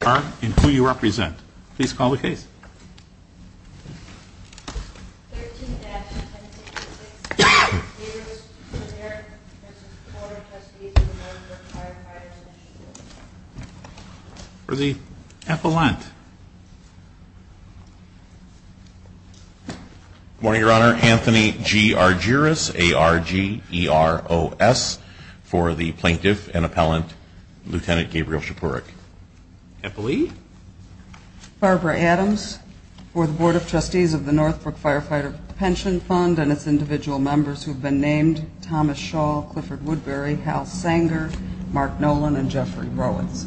are, and who you represent. Please call the case. 13-1066, Scepurek v. Board of Trustees of the Northbrook Firefighter's Pension Board. For the appellant. Good morning, Your Honor. Anthony G. Argyris, A-R-G-E-R-O-S, for the plaintiff and appellant, Lieutenant Gabriel Scepurek. Appellee. Barbara Adams, for the Board of Trustees of the Northbrook Firefighter's Pension Fund and its individual members who have been named, Thomas Shaw, Clifford Woodbury, Hal Sanger, Mark Nolan, and Jeffrey Rowitz.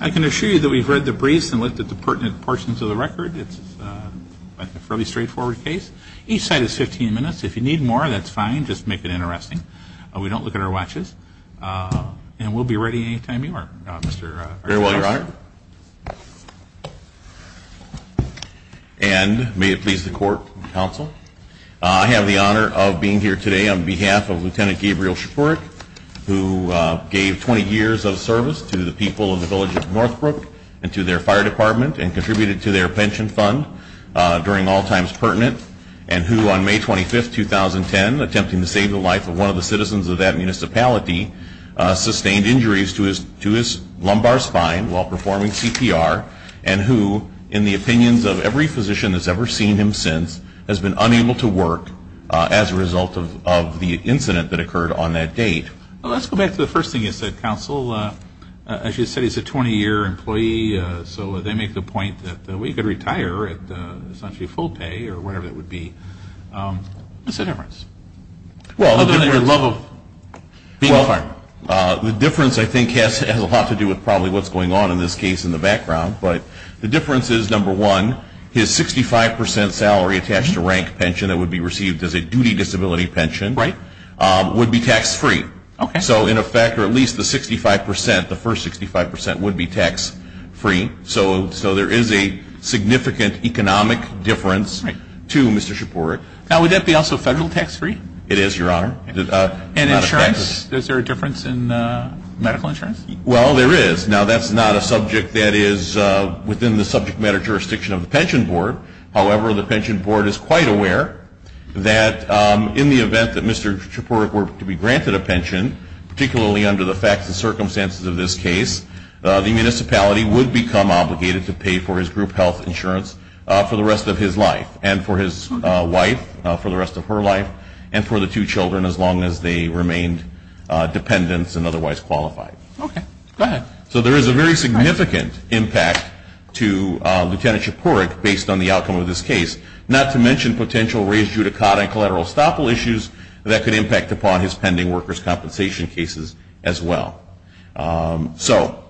I can assure you that we've read the briefs and looked at the pertinent portions of the record. It's a fairly straightforward case. Each side is 15 minutes. If you need more, that's fine. Just make it interesting. We don't look at our watches. And we'll be ready any time you are, Mr. Argyris. Very well, Your Honor. And may it please the Court and Counsel, I have the honor of being here today on behalf of Lieutenant Gabriel Scepurek, who gave 20 years of service to the people of the village of Northbrook and to their fire department, and contributed to their pension fund during all times pertinent, and who on May 25, 2010, attempting to save the life of one of the citizens of that municipality, sustained injuries to his lumbar spine while performing CPR, and who, in the opinions of every physician that's ever seen him since, has been unable to work as a result of the incident that occurred on that date. Well, let's go back to the first thing you said, Counsel. As you said, he's a 20-year employee, so they make the point that we could retire at essentially full pay or whatever that would be. What's the difference? The difference, I think, has a lot to do with probably what's going on in this case in the background, but the difference is, number one, his 65% salary attached to rank pension that would be received as a duty disability pension would be tax-free. So in effect, or at least the first 65% would be tax-free. So there is a significant economic difference to Mr. Chypurek. Now, would that be also federal tax-free? It is, Your Honor. And insurance? Is there a difference in medical insurance? Well, there is. Now, that's not a subject that is within the subject matter jurisdiction of the Pension Board. However, the Pension Board is quite aware that in the event that Mr. Chypurek were to be granted a pension, particularly under the facts and circumstances of this case, the municipality would become obligated to pay for his group health insurance for the rest of his life and for his wife for the rest of her life and for the two children as long as they remained dependents and otherwise qualified. Okay. Go ahead. So there is a very significant impact to Lieutenant Chypurek based on the outcome of this case, not to mention potential raised judicata and collateral estoppel issues that could impact upon his pending workers' compensation cases as well. So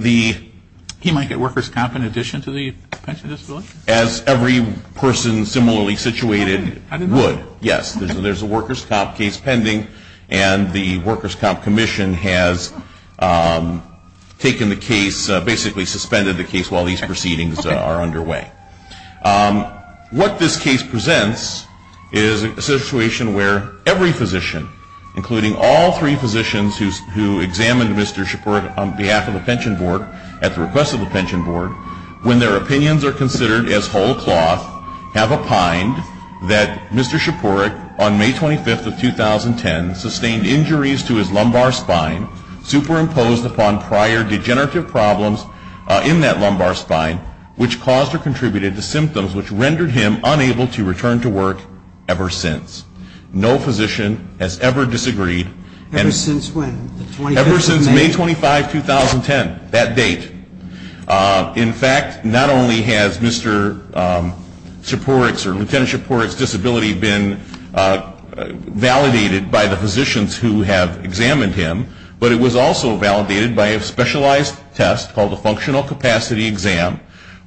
he might get workers' comp in addition to the pension disability? As every person similarly situated would, yes. There is a workers' comp case pending and the Workers' Comp Commission has taken the case, basically suspended the case while these proceedings are underway. What this case presents is a situation where every physician, including all three physicians who examined Mr. Chypurek on behalf of the Pension Board at the request of the Pension Board, when their opinions are considered as whole cloth, have opined that Mr. Chypurek on May 25th of 2010 sustained injuries to his lumbar spine superimposed upon prior degenerative problems in that lumbar spine which caused or contributed to symptoms which rendered him unable to return to work ever since. No physician has ever disagreed. Ever since when? Ever since May 25, 2010. That date. In fact, not only has Mr. Chypurek's or Lt. Chypurek's disability been validated by the physicians who have examined him, but it was also validated by a specialized test called the Functional Capacity Exam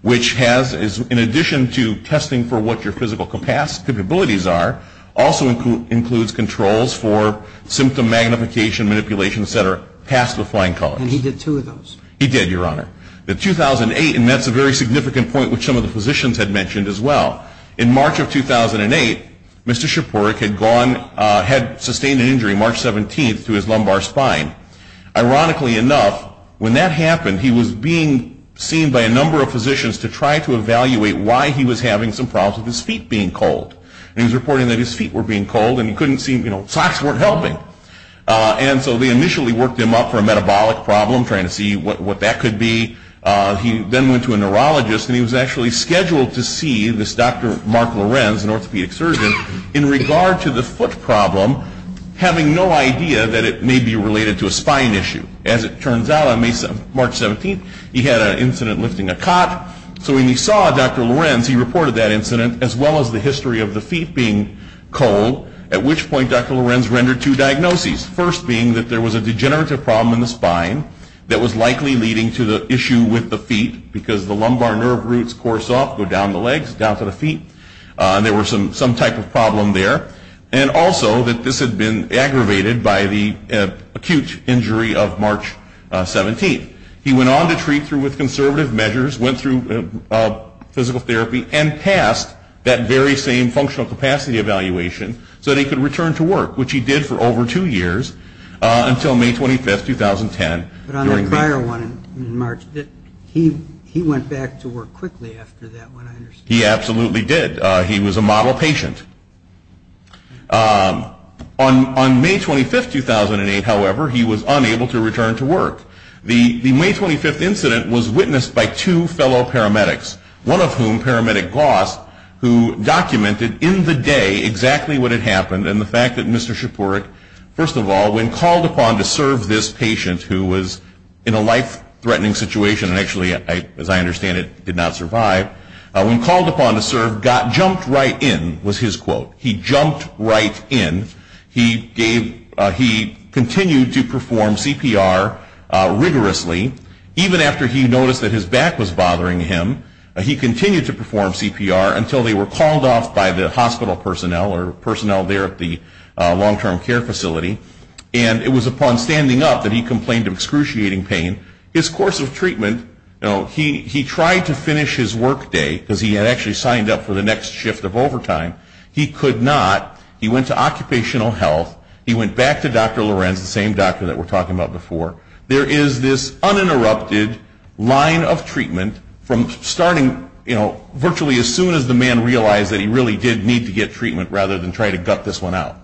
which has, in addition to testing for what your physical capabilities are, also includes controls for symptom magnification, manipulation, et cetera, past the flying colors. And he did two of those? He did, Your Honor. In 2008, and that's a very significant point which some of the physicians had mentioned as well, in March of 2008, Mr. Chypurek had gone had sustained an injury March 17th to his lumbar spine. Ironically enough, when that happened, he was being seen by a number of physicians to try to evaluate why he was having some problems with his feet being cold. And he was reporting that his feet were being cold and he couldn't see, you know, his socks weren't helping. And so they initially worked him up for a metabolic problem, trying to see what that could be. He then went to a neurologist and he was actually scheduled to see this Dr. Mark Lorenz, an orthopedic surgeon, in regard to the foot problem, having no idea that it may be related to a spine issue. As it turns out, on March 17th, he had an incident lifting a cot. So when he saw Dr. Lorenz, he reported that incident as well as the history of the feet being cold, at which point Dr. Lorenz rendered two diagnoses. First being that there was a degenerative problem in the spine that was likely leading to the issue with the feet, because the lumbar nerve roots course off, go down the legs, down to the feet. There was some type of problem there. And also that this had been aggravated by the acute injury of March 17th. He went on to treat through with conservative measures, went through physical therapy, and passed that very same functional capacity evaluation so that he could return to work, which he did for over two years, until May 25th, 2010. But on the prior one in March, he went back to work quickly after that one, I understand. He absolutely did. He was a model patient. On May 25th, 2008, however, he was unable to return to work. The May 25th incident was witnessed by two fellow paramedics, one of whom, Paramedic Gloss, who documented in the day exactly what had happened and the fact that Mr. Shapourik, first of all, when called upon to serve this patient who was in a life-threatening situation, and actually, as I understand it, did not survive, when called upon to serve, jumped right in, was his quote. He jumped right in. He gave, he continued to perform CPR rigorously, even after he noticed that his back was bothering him. He continued to perform CPR until they were called off by the hospital personnel or personnel there at the long-term care facility. And it was upon standing up that he complained of excruciating pain. His course of treatment, you know, he tried to finish his work day, because he had actually signed up for the next shift of overtime. He could not. He went to occupational health. He went back to Dr. Lorenz, the same doctor that we're talking about before. There is this uninterrupted line of treatment from starting, you know, virtually as soon as the man realized that he really did need to get treatment rather than try to gut this one out.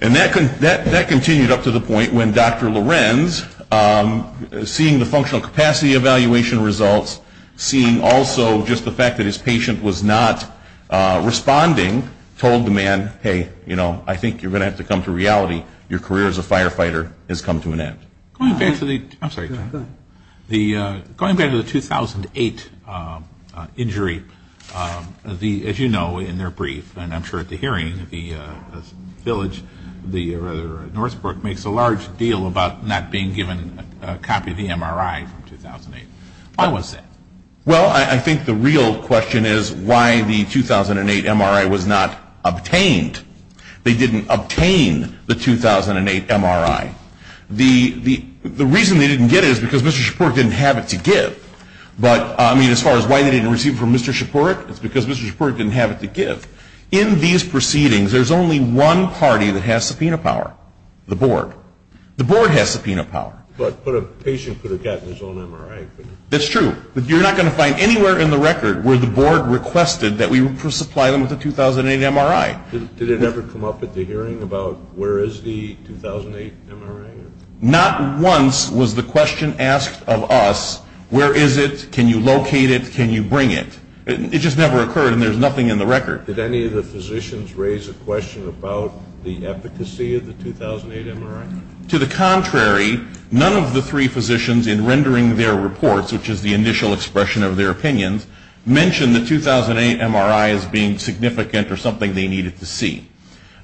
And that continued up to the point when Dr. Lorenz, seeing the functional capacity evaluation results, seeing also just the fact that his patient was not responding, told the man, hey, you know, I think you're going to have to come to reality. Your career as a firefighter has come to an end. Going back to the 2008 injury, as you know, in their brief, and I'm sure at the hearing, the village, Northbrook, makes a large deal about not being given a copy of the MRI from 2008. Why was that? Well, I think the real question is why the 2008 MRI was not obtained. They didn't obtain the 2008 MRI. The reason they didn't get it is because Mr. Shapourik didn't have it to give. But, I mean, as far as why they didn't receive it from Mr. Shapourik, it's because Mr. Shapourik didn't have it to give. In these proceedings, there's only one party that has subpoena power. The board. The board has subpoena power. But a patient could have gotten his own MRI. That's true. But you're not going to find anywhere in the record where the board requested that we supply them with a 2008 MRI. Did it ever come up at the hearing about where is the 2008 MRI? Not once was the question asked of us, where is it? Can you locate it? Can you bring it? It just never occurred, and there's nothing in the record. Did any of the physicians raise a question about the efficacy of the 2008 MRI? To the contrary, none of the three physicians, in rendering their reports, which is the initial expression of their opinions, mentioned the 2008 MRI as being significant or something they needed to see.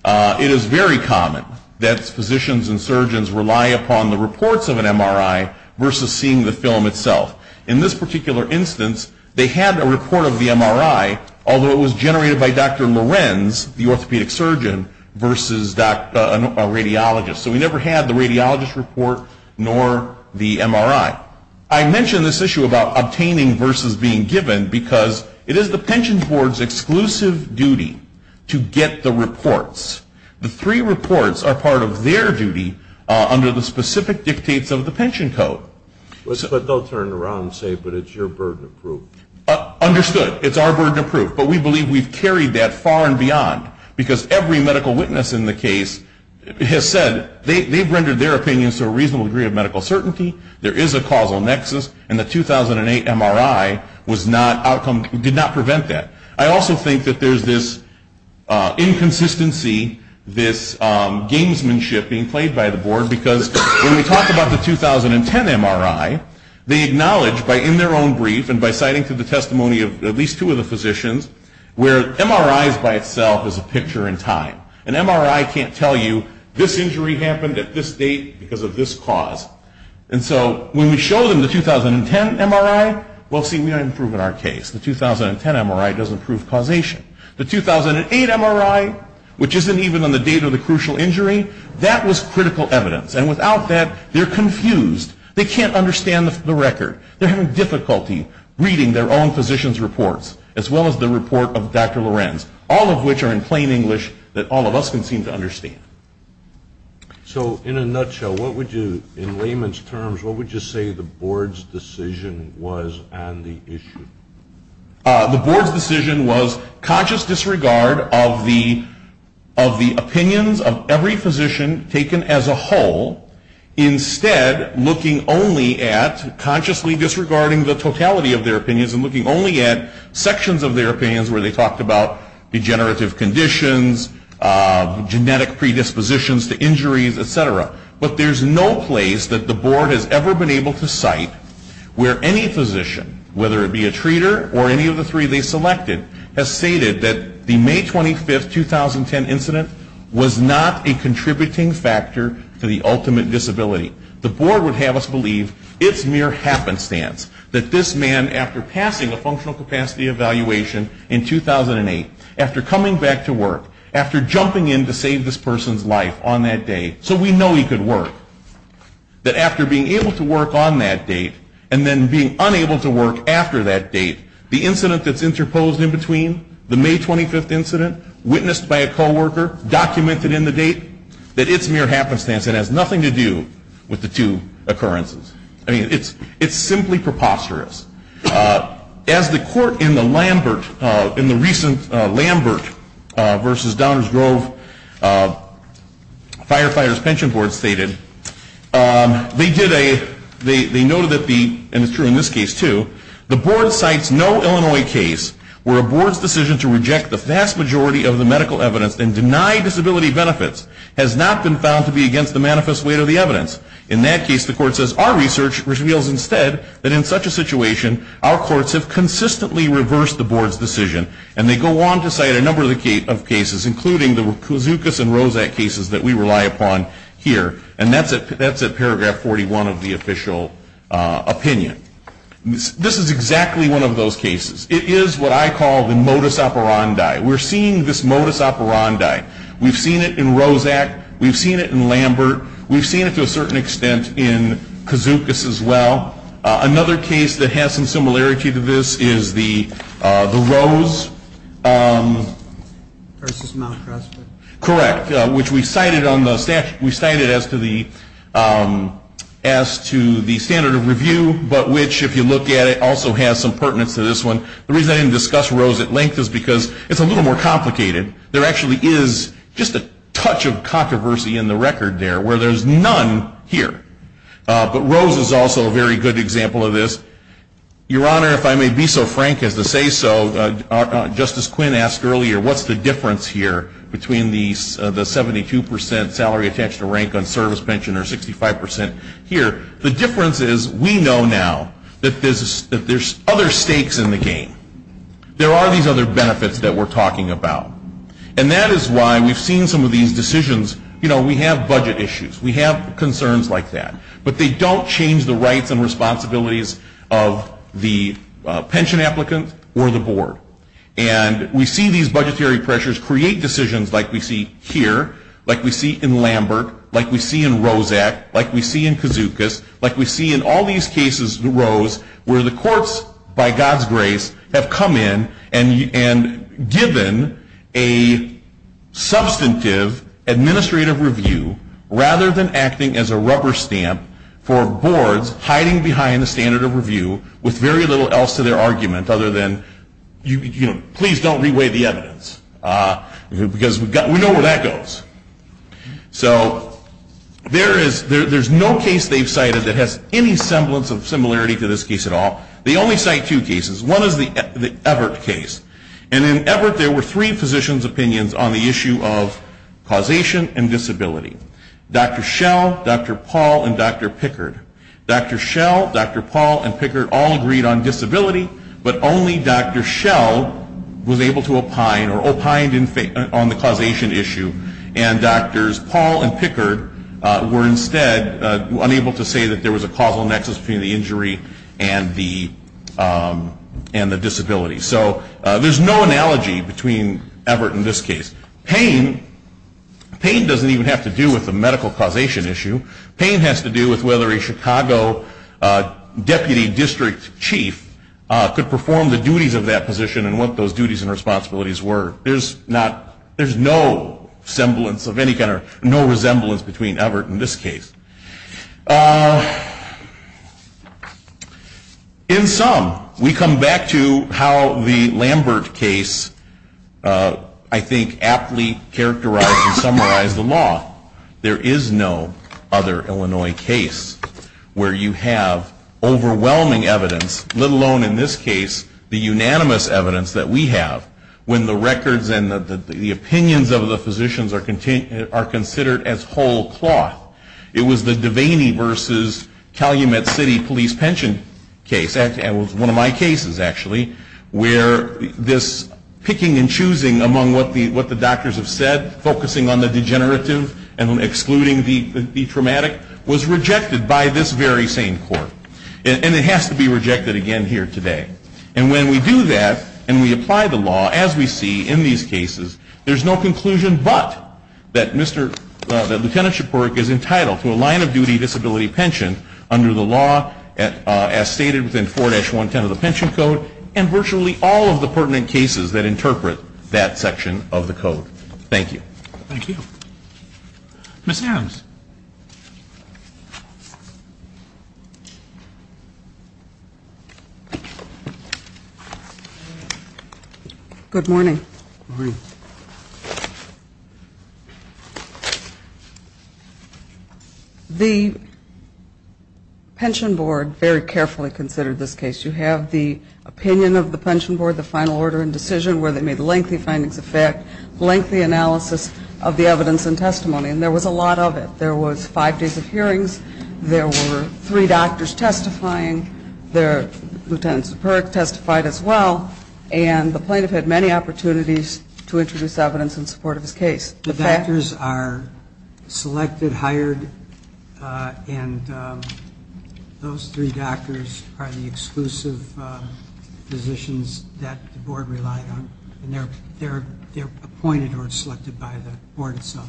It is very common that physicians and surgeons rely upon the reports of an MRI versus seeing the film itself. In this particular instance, they had a report of the MRI, although it was generated by Dr. Lorenz, the orthopedic surgeon, versus a radiologist. So we never had the radiologist's report, nor the MRI. I mention this issue about obtaining versus being given because it is the pension board's exclusive duty to get the reports. The three reports are part of their duty under the specific dictates of the pension code. But they'll turn around and say, but it's your burden of proof. Understood. It's our burden of proof, but we believe we've carried that far and beyond because every medical witness in the case has said they've rendered their opinions to a reasonable degree of medical certainty, there is a causal nexus, and the 2008 MRI did not prevent that. I also think that there's this inconsistency, this gamesmanship being played by the board because when we talk about the 2010 MRI, they acknowledge by in their own brief and by citing to the testimony of at least two of the physicians where MRIs by itself is a picture in time. An MRI can't tell you this injury happened at this date because of this cause. And so when we show them the 2010 MRI, we say we haven't proven our case. The 2010 MRI doesn't prove causation. The 2008 MRI, which isn't even on the date of the crucial injury, that was critical evidence. And without that, they're confused. They can't understand the record. They're having difficulty reading their own physician's reports as well as the report of Dr. Lorenz, all of which are in plain English that all of us can seem to understand. So in a nutshell, what would you, in layman's terms, what would you say the board's decision was on the issue? The board's decision was conscious disregard of the opinions of every physician taken as a whole. Instead, looking only at, consciously disregarding the totality of their opinions and looking only at sections of their opinions where they talked about degenerative conditions, genetic predispositions to injuries, etc. But there's no place that the board has ever been able to cite where any physician, whether it be a treater or any of the three they selected, has stated that the May 25, 2010 incident was not a contributing factor to the ultimate disability. The board would have us believe it's mere happenstance that this man, after passing a functional capacity evaluation in 2008, after coming back to work, after jumping in to save this person's life on that day, so we know he could work, that after being able to work on that date and then being unable to work after that date, the incident that's interposed in between, the May 25 incident, witnessed by a co-worker, documented in the date, that it's mere happenstance and has nothing to do with the two occurrences. I mean, it's simply preposterous. As the court in the recent Lambert v. Downers Grove Firefighters Pension Board stated, they did a, they noted that the, and it's true in this case too, the board cites no Illinois case where a board's decision to reject the vast majority of the medical evidence and deny disability benefits has not been found to be against the manifest weight of the evidence. In that case, the court says, our research reveals instead that in such a situation, our courts have consistently reversed the board's decision, and they go on to cite a number of cases, including the Kouzoukas and Rozak cases that we rely upon here, and that's at paragraph 41 of the official opinion. This is exactly one of those cases. It is what I call the modus operandi. We're seeing this modus operandi. We've seen it in Rozak. We've seen it in Lambert. We've seen it to a certain extent in Kouzoukas as well. Another case that has some similarity to this is the Rose. Correct, which we cited on the statute, we cited as to the standard of review, but which if you look at it also has some pertinence to this one. The reason I didn't discuss Rose at length is because it's a little more complicated. There actually is just a touch of controversy in the record there, where there's none here. But Rose is also a very good example of this. Your Honor, if I may be so frank as to say so, Justice Quinn asked earlier, what's the difference here between the 72% salary attached to rank on service pension or 65% here? The difference is we know now that there's other stakes in the game. There are these other benefits that we're talking about. And that is why we've seen some of these decisions. You know, we have budget issues. We have concerns like that. But they don't change the rights and responsibilities of the pension applicant or the board. And we see these budgetary pressures create decisions like we see here, like we see in Lambert, like we see in Rozak, like we see in Kazukas, like we see in all these cases, Rose, where the courts, by God's grace, have come in and given a substantive administrative review rather than acting as a rubber stamp for the administrative review with very little else to their argument other than please don't re-weigh the evidence. Because we know where that goes. So there is no case they've cited that has any semblance of similarity to this case at all. They only cite two cases. One is the Everett case. And in Everett there were three physicians' opinions on the issue of causation and disability. Dr. Schell, Dr. Paul, and Dr. Pickard. Dr. Schell, Dr. Paul, and Pickard all agreed on disability, but only Dr. Schell was able to opine or opined on the causation issue. And Drs. Paul and Pickard were instead unable to say that there was a causal nexus between the injury and the disability. So there's no analogy between Everett and this case. Pain doesn't even have to do with the medical causation issue. Pain has to do with whether a Chicago Deputy District Chief could perform the duties of that position and what those duties and responsibilities were. There's not, there's no semblance of any kind, no resemblance between Everett and this case. In sum, we come back to how the Lambert case I think aptly characterized and summarized the law. There is no other Illinois case where you have overwhelming evidence, let alone in this case the unanimous evidence that we have, when the records and the opinions of the physicians are considered as whole cloth. It was the Devaney v. Calumet City Police Pension case, one of my cases actually, where this picking and choosing among what the doctors have said, focusing on the degenerative and excluding the traumatic was rejected by this very same court. And it has to be rejected again here today. And when we do that, and we apply the law as we see in these cases, there's no conclusion but that Lieutenant Shapirok is entitled to a line of duty disability pension under the law as stated within 4-110 of the Pension Code and virtually all of the pertinent cases that interpret that Thank you. Ms. Adams. Good morning. Good morning. The Pension Board very carefully considered this case. You have the opinion of the Pension Board, the final order and decision where they made lengthy findings of fact, lengthy analysis of the evidence and testimony. And there was a lot of it. There was five days of hearings. There were three doctors testifying. Lieutenant Shapirok testified as well. And the plaintiff had many opportunities to introduce evidence in support of his case. The doctors are selected, hired, and those three doctors are the exclusive physicians that the board relied on. And they're appointed or selected by the board itself.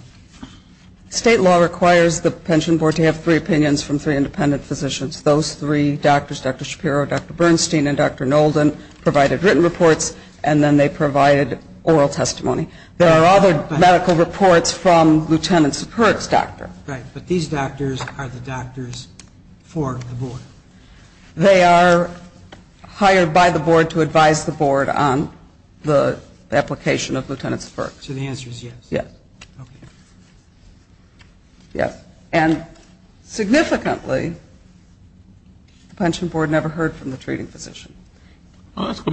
State law requires the Pension Board to have three opinions from three independent physicians. Those three doctors, Dr. Shapiro, Dr. Bernstein, and Dr. Nolden, provided written reports and then they provided oral testimony. There are other medical reports from Lieutenant Shapirok's doctor. Right. But these doctors are the doctors for the board. They are hired by the board to advise the board on the application of Lieutenant Shapirok. So the answer is yes. Yes. And significantly, the Pension Board never heard from the treating physician. Dr.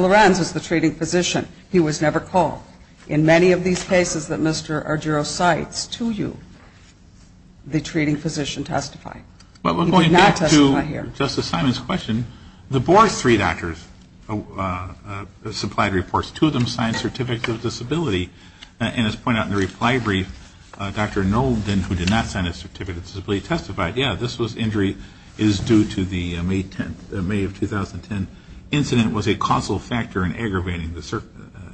Lorenz was the treating physician. He was never called. In many of these cases that Mr. Argyro cites to you, the treating physician testified. He did not testify here. Justice Simon's question, the board's three doctors supplied reports. Two of them signed certificates of disability. And as pointed out in the reply brief, Dr. Nolden, who did not sign a certificate of disability, testified, yeah, this injury is due to the May of 2010 incident was a causal factor in aggravating the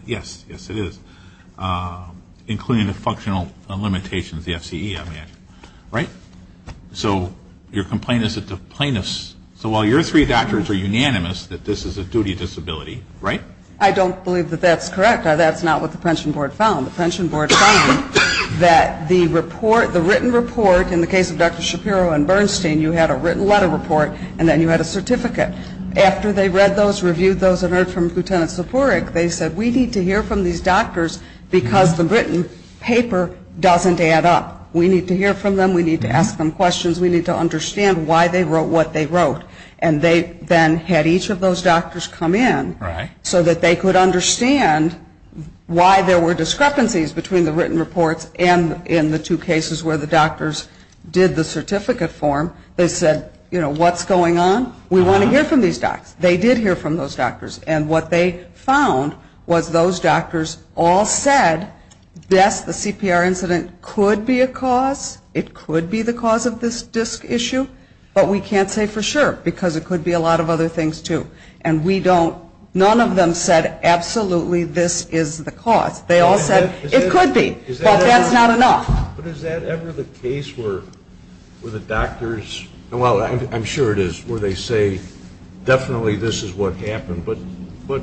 yes, yes it is, including the functional limitations of the FCE, I imagine. Right. So your complaint is that the plaintiffs, so while your three doctors are unanimous that this is a duty of disability, right? I don't believe that that's correct. That's not what the Pension Board found. The Pension Board found that the written report, in the case of Dr. Shapiro and Bernstein, you had a written letter report and then you had a certificate. After they read those, reviewed those, and heard from Lieutenant Shapirok, they said we need to hear from these doctors because the written paper doesn't add up. We need to hear from them. We need to ask them questions. We need to understand why they wrote what they wrote. And they then had each of those doctors come in so that they could understand why there were discrepancies between the written reports and in the two cases where the doctors did the certificate form. They said, you know, what's going on? We want to hear from these doctors. They did hear from those doctors. And what they found was those doctors all said, yes, the CPR incident could be a cause. It could be the cause of this disc issue. But we can't say for sure because it could be a lot of other things too. And we don't, none of them said absolutely this is the cause. They all said it could be. But that's not enough. But is that ever the case where the doctors, well, I'm sure it is, where they say definitely this is what happened. But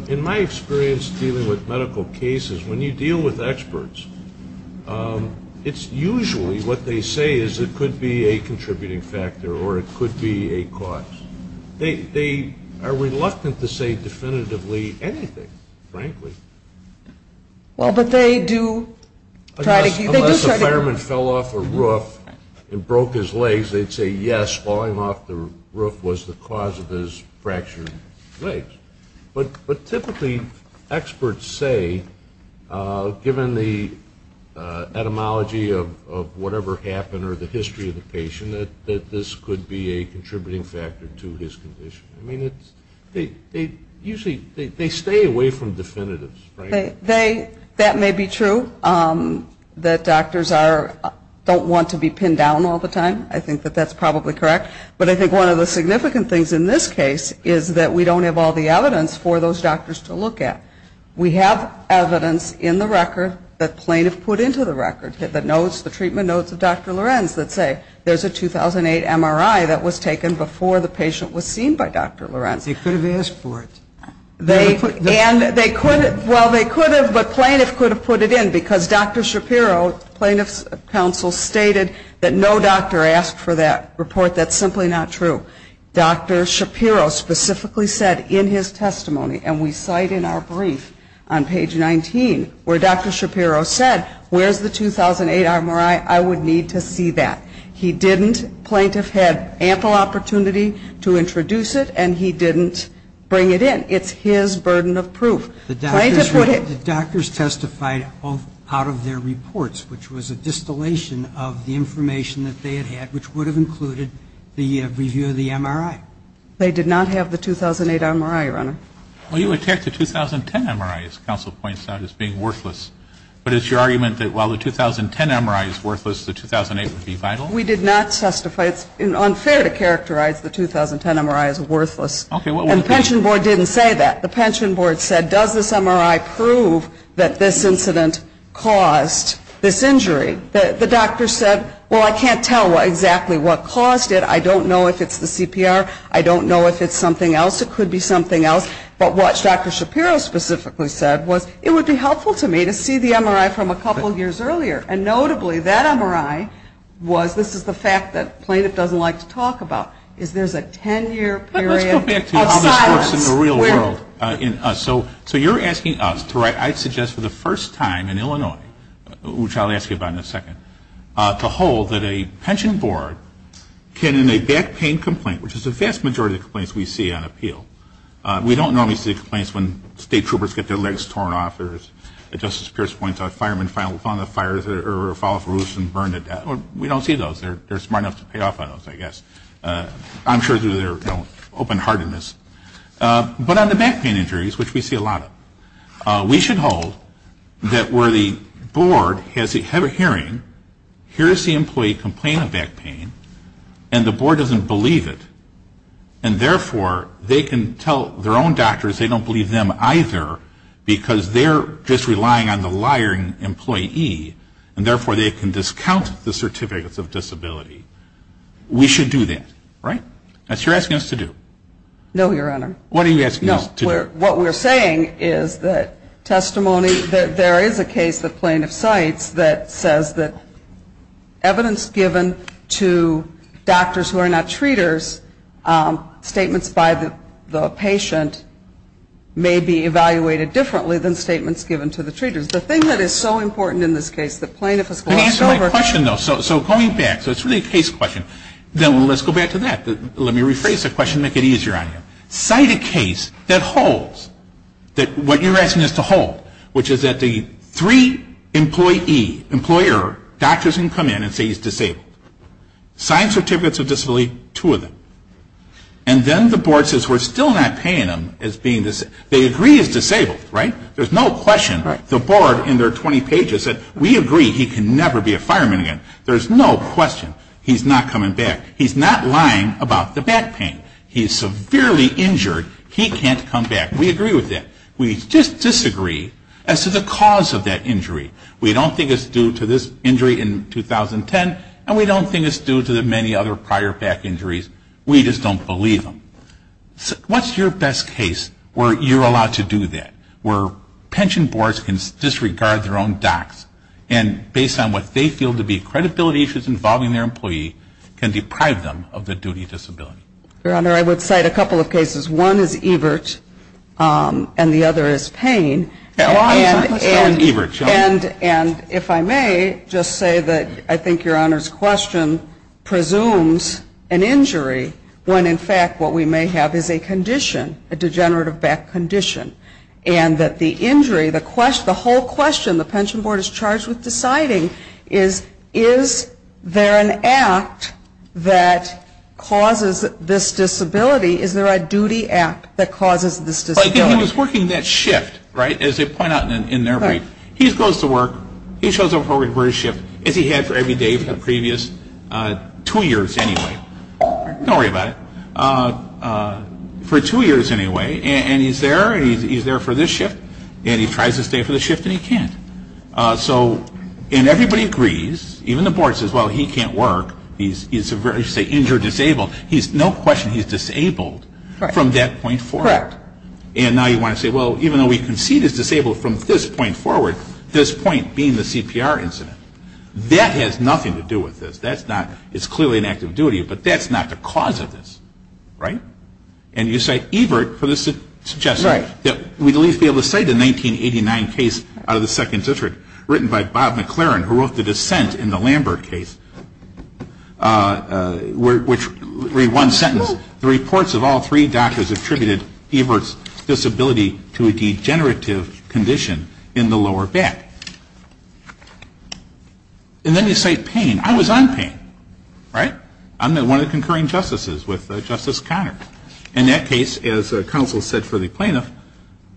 in my experience dealing with medical cases, when you deal with experts, it's usually what they say is it could be a contributing factor or it could be a cause. They are reluctant to say definitively anything, frankly. Well, but they do Unless a fireman fell off a roof and broke his legs, they'd say yes, falling off the roof was the cause of his fractured legs. But typically experts say, given the etymology of whatever happened or the history of the patient that this could be a contributing factor to his condition. I mean, usually they stay away from definitives. That may be true, that doctors don't want to be pinned down all the time. I think that that's probably correct. But I think one of the significant things in this case is that we don't have all the evidence for those doctors to look at. We have evidence in the record that plaintiff put into the record, the notes, the treatment notes of Dr. Lorenz that say there's a 2008 MRI that was taken before the patient was seen by Dr. Lorenz. They could have asked for it. Well, they could have, but plaintiff could have put it in because Dr. Shapiro, plaintiff's counsel, stated that no doctor asked for that report. That's simply not true. Dr. Shapiro specifically said in his testimony and we cite in our brief on page 19 where Dr. Shapiro said, where's the 2008 MRI? I would need to see that. He didn't. Plaintiff had ample opportunity to introduce it and he didn't bring it in. It's his burden of proof. The doctors testified out of their reports which was a distillation of the information that they had had which would have included the review of the MRI. They did not have the 2008 MRI, Your Honor. Well, you would take the 2010 MRI, as counsel points out, as being worthless. But it's your argument that while the 2010 MRI is worthless, the 2008 would be vital? We did not testify. It's unfair to characterize the 2010 MRI as worthless. And the pension board didn't say that. The pension board said, does this MRI prove that this incident caused this injury? The doctor said, well, I can't tell exactly what caused it. I don't know if it's the CPR. I don't know if it's something else. It could be something else. But what Dr. Shapiro specifically said was, it would be helpful to me to see the MRI from a couple years earlier. And notably, that MRI was, this is the fact that plaintiff doesn't like to talk about, is there's a 10-year period of silence. So you're asking us to write, I suggest for the first time in Illinois, which I'll ask you about in a second, to hold that a pension board can, in a back pain complaint, which is the vast majority of complaints we see on appeal, we don't normally see complaints when state troopers get their legs torn off, or as Justice Pierce points out, firemen fall off roofs and burn to death. We don't see those. They're smart enough to pay off on those, I guess. I'm sure through their open-heartedness. But on the back pain injuries, which we see a lot of, we should hold that where the board has a hearing, here is the employee complaining of back pain, and the board doesn't believe it. And therefore, they can tell their own doctors they don't believe them either, because they're just relying on the liar employee, and therefore they can discount the certificates of disability. We should do that, right? That's what you're asking us to do. No, Your Honor. What are you asking us to do? No, what we're saying is that testimony, that there is a case that plaintiff cites that says that evidence given to doctors who are not treaters, statements by the patient may be evaluated differently than statements given to the treaters. The thing that is so important in this case that plaintiff has glossed over Let me answer my question, though. So going back, so it's really a case question. Then let's go back to that. Let me rephrase the question to make it easier on you. Cite a case that holds, that what you're asking us to hold, which is that the three employee, employer doctors can come in and say he's disabled. Signed certificates of disability, two of them. And then the board says we're still not paying him as being disabled. They agree he's disabled, right? There's no question. The board in their 20 pages said we agree he can never be a fireman again. There's no question he's not coming back. He's not lying about the back pain. He's severely injured. He can't come back. We agree with that. We just disagree as to the cause of that injury. We don't think it's due to this injury in 2010, and we don't think it's due to the many other prior back injuries. We just don't believe them. What's your best case where you're allowed to do that? Where pension boards can disregard their own docs and based on what they feel to be credibility issues involving their employee, can deprive them of the duty of disability? Your Honor, I would cite a couple of cases. One is Evert and the other is Payne. And if I may just say that I think Your Honor's question presumes an injury when in fact what we may have is a condition, a degenerative back condition. And that the injury, the whole question when the pension board is charged with deciding is, is there an act that causes this disability? Is there a duty act that causes this disability? He was working that shift, right, as they point out in their brief. He goes to work. He shows up for his shift, as he had for every day for the previous two years anyway. Don't worry about it. For two years anyway. And he's there. And he's there for this shift. And he tries to stay for the shift and he can't. And everybody agrees. Even the board says, well, he can't work. He's a very, say, injured disabled. No question he's disabled from that point forward. And now you want to say, well, even though we can see this disabled from this point forward, this point being the CPR incident, that has nothing to do with this. That's not, it's clearly an act of duty, but that's not the cause of this, right? And you cite Evert for this suggestion, that we'd at least be able to cite a 1989 case out of the second district, written by Bob McLaren, who wrote the dissent in the Lambert case, which read one sentence, the reports of all three doctors attributed Evert's disability to a degenerative condition in the lower back. And then you cite Payne. I was on Payne. Right? I'm one of the concurring justices with Justice Conard. And that case, as counsel said for the plaintiff,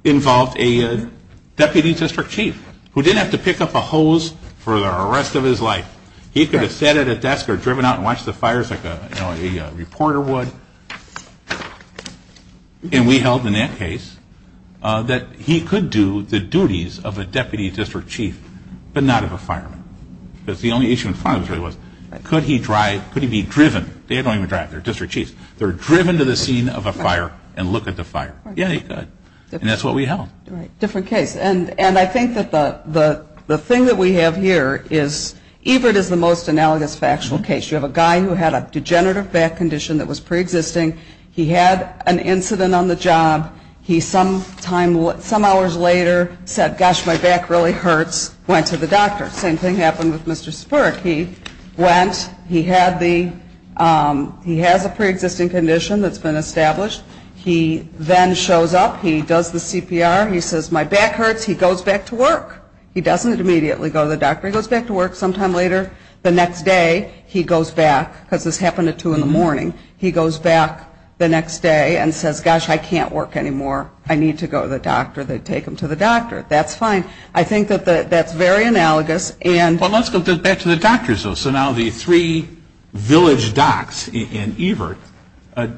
involved a deputy district chief who didn't have to pick up a hose for the rest of his life. He could have sat at a desk or driven out and watched the fires like a reporter would. And we held in that case that he could do the duties of a deputy district chief, but not of a fireman. Because the only issue in front of us really was, could he drive, could he be driven? They don't even drive. They're district chiefs. They're driven to the scene of a fire and look at the fire. Yeah, he could. And that's what we held. And I think that the thing that we have here is Evert is the most analogous factual case. You have a guy who had a degenerative back condition that was preexisting. He had an incident on the job. He some hours later said, gosh, my back really hurts. Went to the doctor. Same thing happened with Mr. Spirk. He went. He has a preexisting condition that's been established. He then shows up. He does the CPR. He says, my back hurts. He goes back to work. He doesn't immediately go to the doctor. He goes back to work sometime later. The next day he goes back, because this happened at 2 in the morning, he goes back the next day and says, gosh, I can't work anymore. I need to go to the doctor. They take him to the doctor. That's fine. I think that that's very analogous. Well, let's go back to the doctors. So now the three village docs in Evert,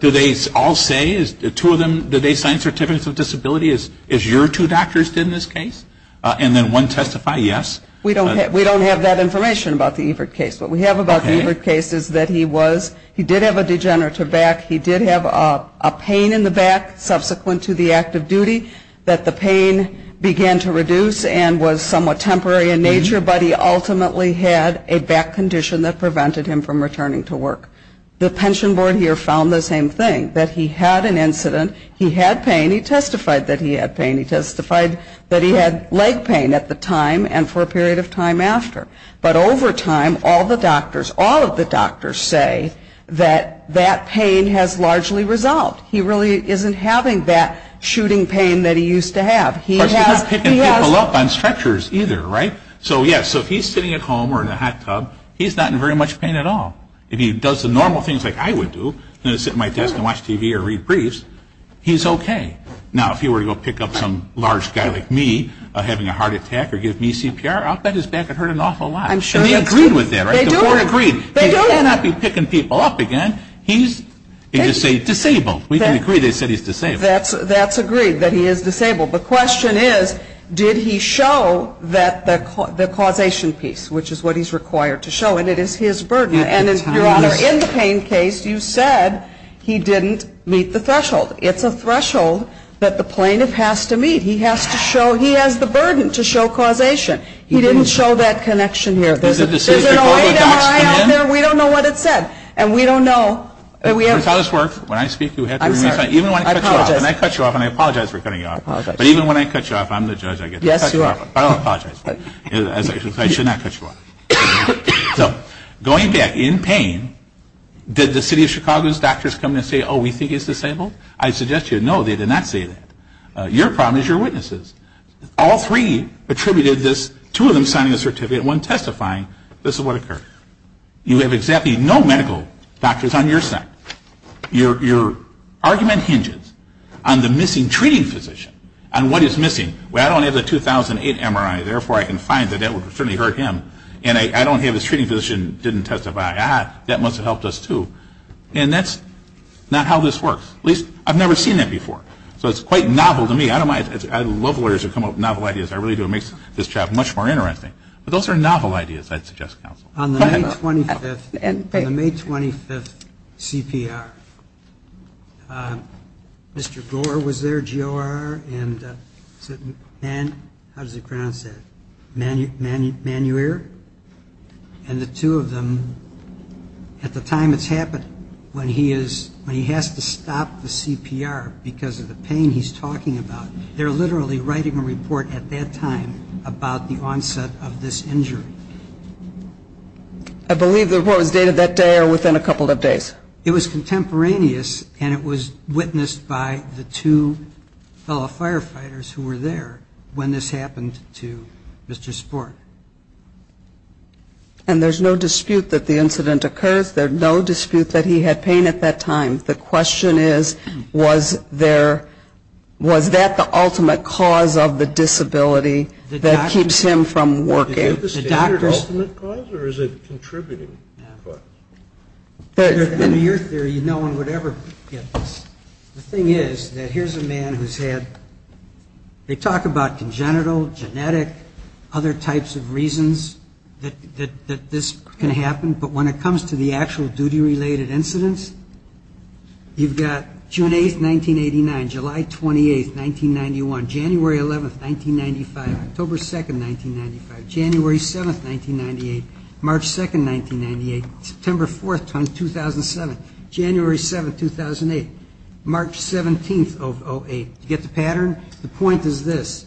do they all say, do they sign certificates of disability as your two doctors did in this case? And then one testifies, yes? We don't have that information about the Evert case. What we have about the Evert case is that he was, he did have a degenerative back. He did have a pain in the back subsequent to the act of duty that the pain began to reduce and was somewhat temporary in nature, but he ultimately had a back condition that prevented him from returning to work. The pension board here found the same thing, that he had an incident. He had pain. He testified that he had pain. He testified that he had leg pain at the time and for a period of time after. But over time, all the doctors, all of the doctors say that that pain has largely resolved. He really isn't having that shooting pain that he used to have. Of course, he's not picking people up on stretchers either, right? So yes, if he's sitting at home or in a hot tub, he's not in very much pain at all. If he does the normal things like I would do, sit at my desk and watch TV or read briefs, he's okay. Now, if he were to go pick up some large guy like me having a heart attack or give me CPR, I'll bet his back would hurt an awful lot. And they agreed with that, right? The board agreed. He cannot be picking people up again. He's, they just say, disabled. We can agree they said he's disabled. That's agreed that he is disabled. The question is, did he show that the causation piece, which is what he's required to show, and it is his burden. And, Your Honor, in the pain case, you said he didn't meet the threshold. It's a threshold that the plaintiff has to meet. He has to show, he has the burden to show causation. He didn't show that connection here. We don't know what it said. And we don't know. When I speak, even when I cut you off, and I apologize for cutting you off, but even when I cut you off, I'm the judge, I get to cut you off. I don't apologize. I should not cut you off. So, going back, in pain, did the City of Chicago's doctors come in and say, oh, we think he's disabled? I suggest to you, no, they did not say that. Your problem is your witnesses. All three attributed this, two of them signing a certificate, one testifying, this is what occurred. You have exactly no medical doctors on your side. Your argument hinges on the missing treating physician, on what is missing. Well, I don't have the 2008 MRI, therefore, I can find that that would certainly hurt him. And I don't have his treating physician didn't testify. Ah, that must have helped us, too. And that's not how this works. At least, I've never seen that before. So it's quite novel to me. I love lawyers who come up with novel ideas. I really do. It makes this job much more interesting. But those are novel ideas, I'd suggest, counsel. On the May 25th CPR, Mr. Gore was there, G.O.R. How does he pronounce that? And the two of them, at the time it's happened, when he has to stop the CPR because of the pain he's talking about, they're literally writing a report at that time about the onset of this injury. I believe the report was dated that day or within a couple of days. It was contemporaneous, and it was witnessed by the two fellow firefighters who were there when this happened to Mr. Sport. And there's no dispute that the incident occurs. There's no dispute that he had pain at that time. The question is, was there, was that the ultimate cause of the disability that keeps him from working? Is it the standard ultimate cause, or is it a contributing cause? Under your theory, no one would ever get this. The thing is that here's a man who's had, they talk about congenital, genetic, other types of reasons that this can happen, but when it comes to the actual duty-related incidents, you've got June 8th, 1989, July 28th, 1991, January 11th, 1995, October 2nd, 1995, January 7th, 1998, March 2nd, 1998, September 4th, 2007, January 7th, 2008, March 17th of 08. You get the pattern? The point is this.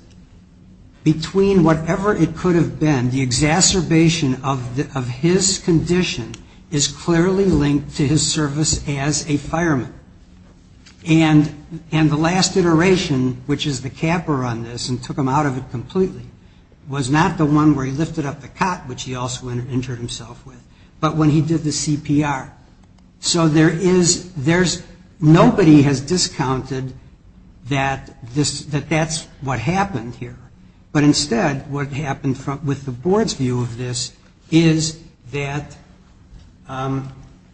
Between whatever it could have been, the exacerbation of his condition is clearly linked to his service as a fireman. And the last iteration, which is the capper on this and took him out of it completely, was not the one where he lifted up the cot, which he also injured himself with, but when he did the CPR. So there is, there's, nobody has discounted that this, that that's what happened here. But instead what happened with the board's view of this is that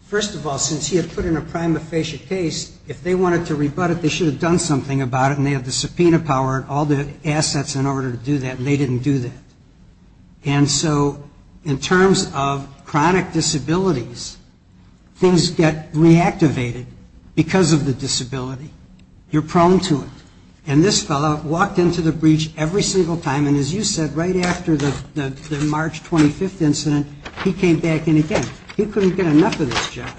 first of all, since he had put in a prima facie case, if they wanted to rebut it, they should have done something about it, and they had the subpoena power and all the assets in order to do that, and they didn't do that. And so in terms of chronic disabilities, things get reactivated because of the disability. You're prone to it. And this fellow walked into the breach every single time, and as you said, right after the March 25th incident, he came back in again. He couldn't get enough of this job.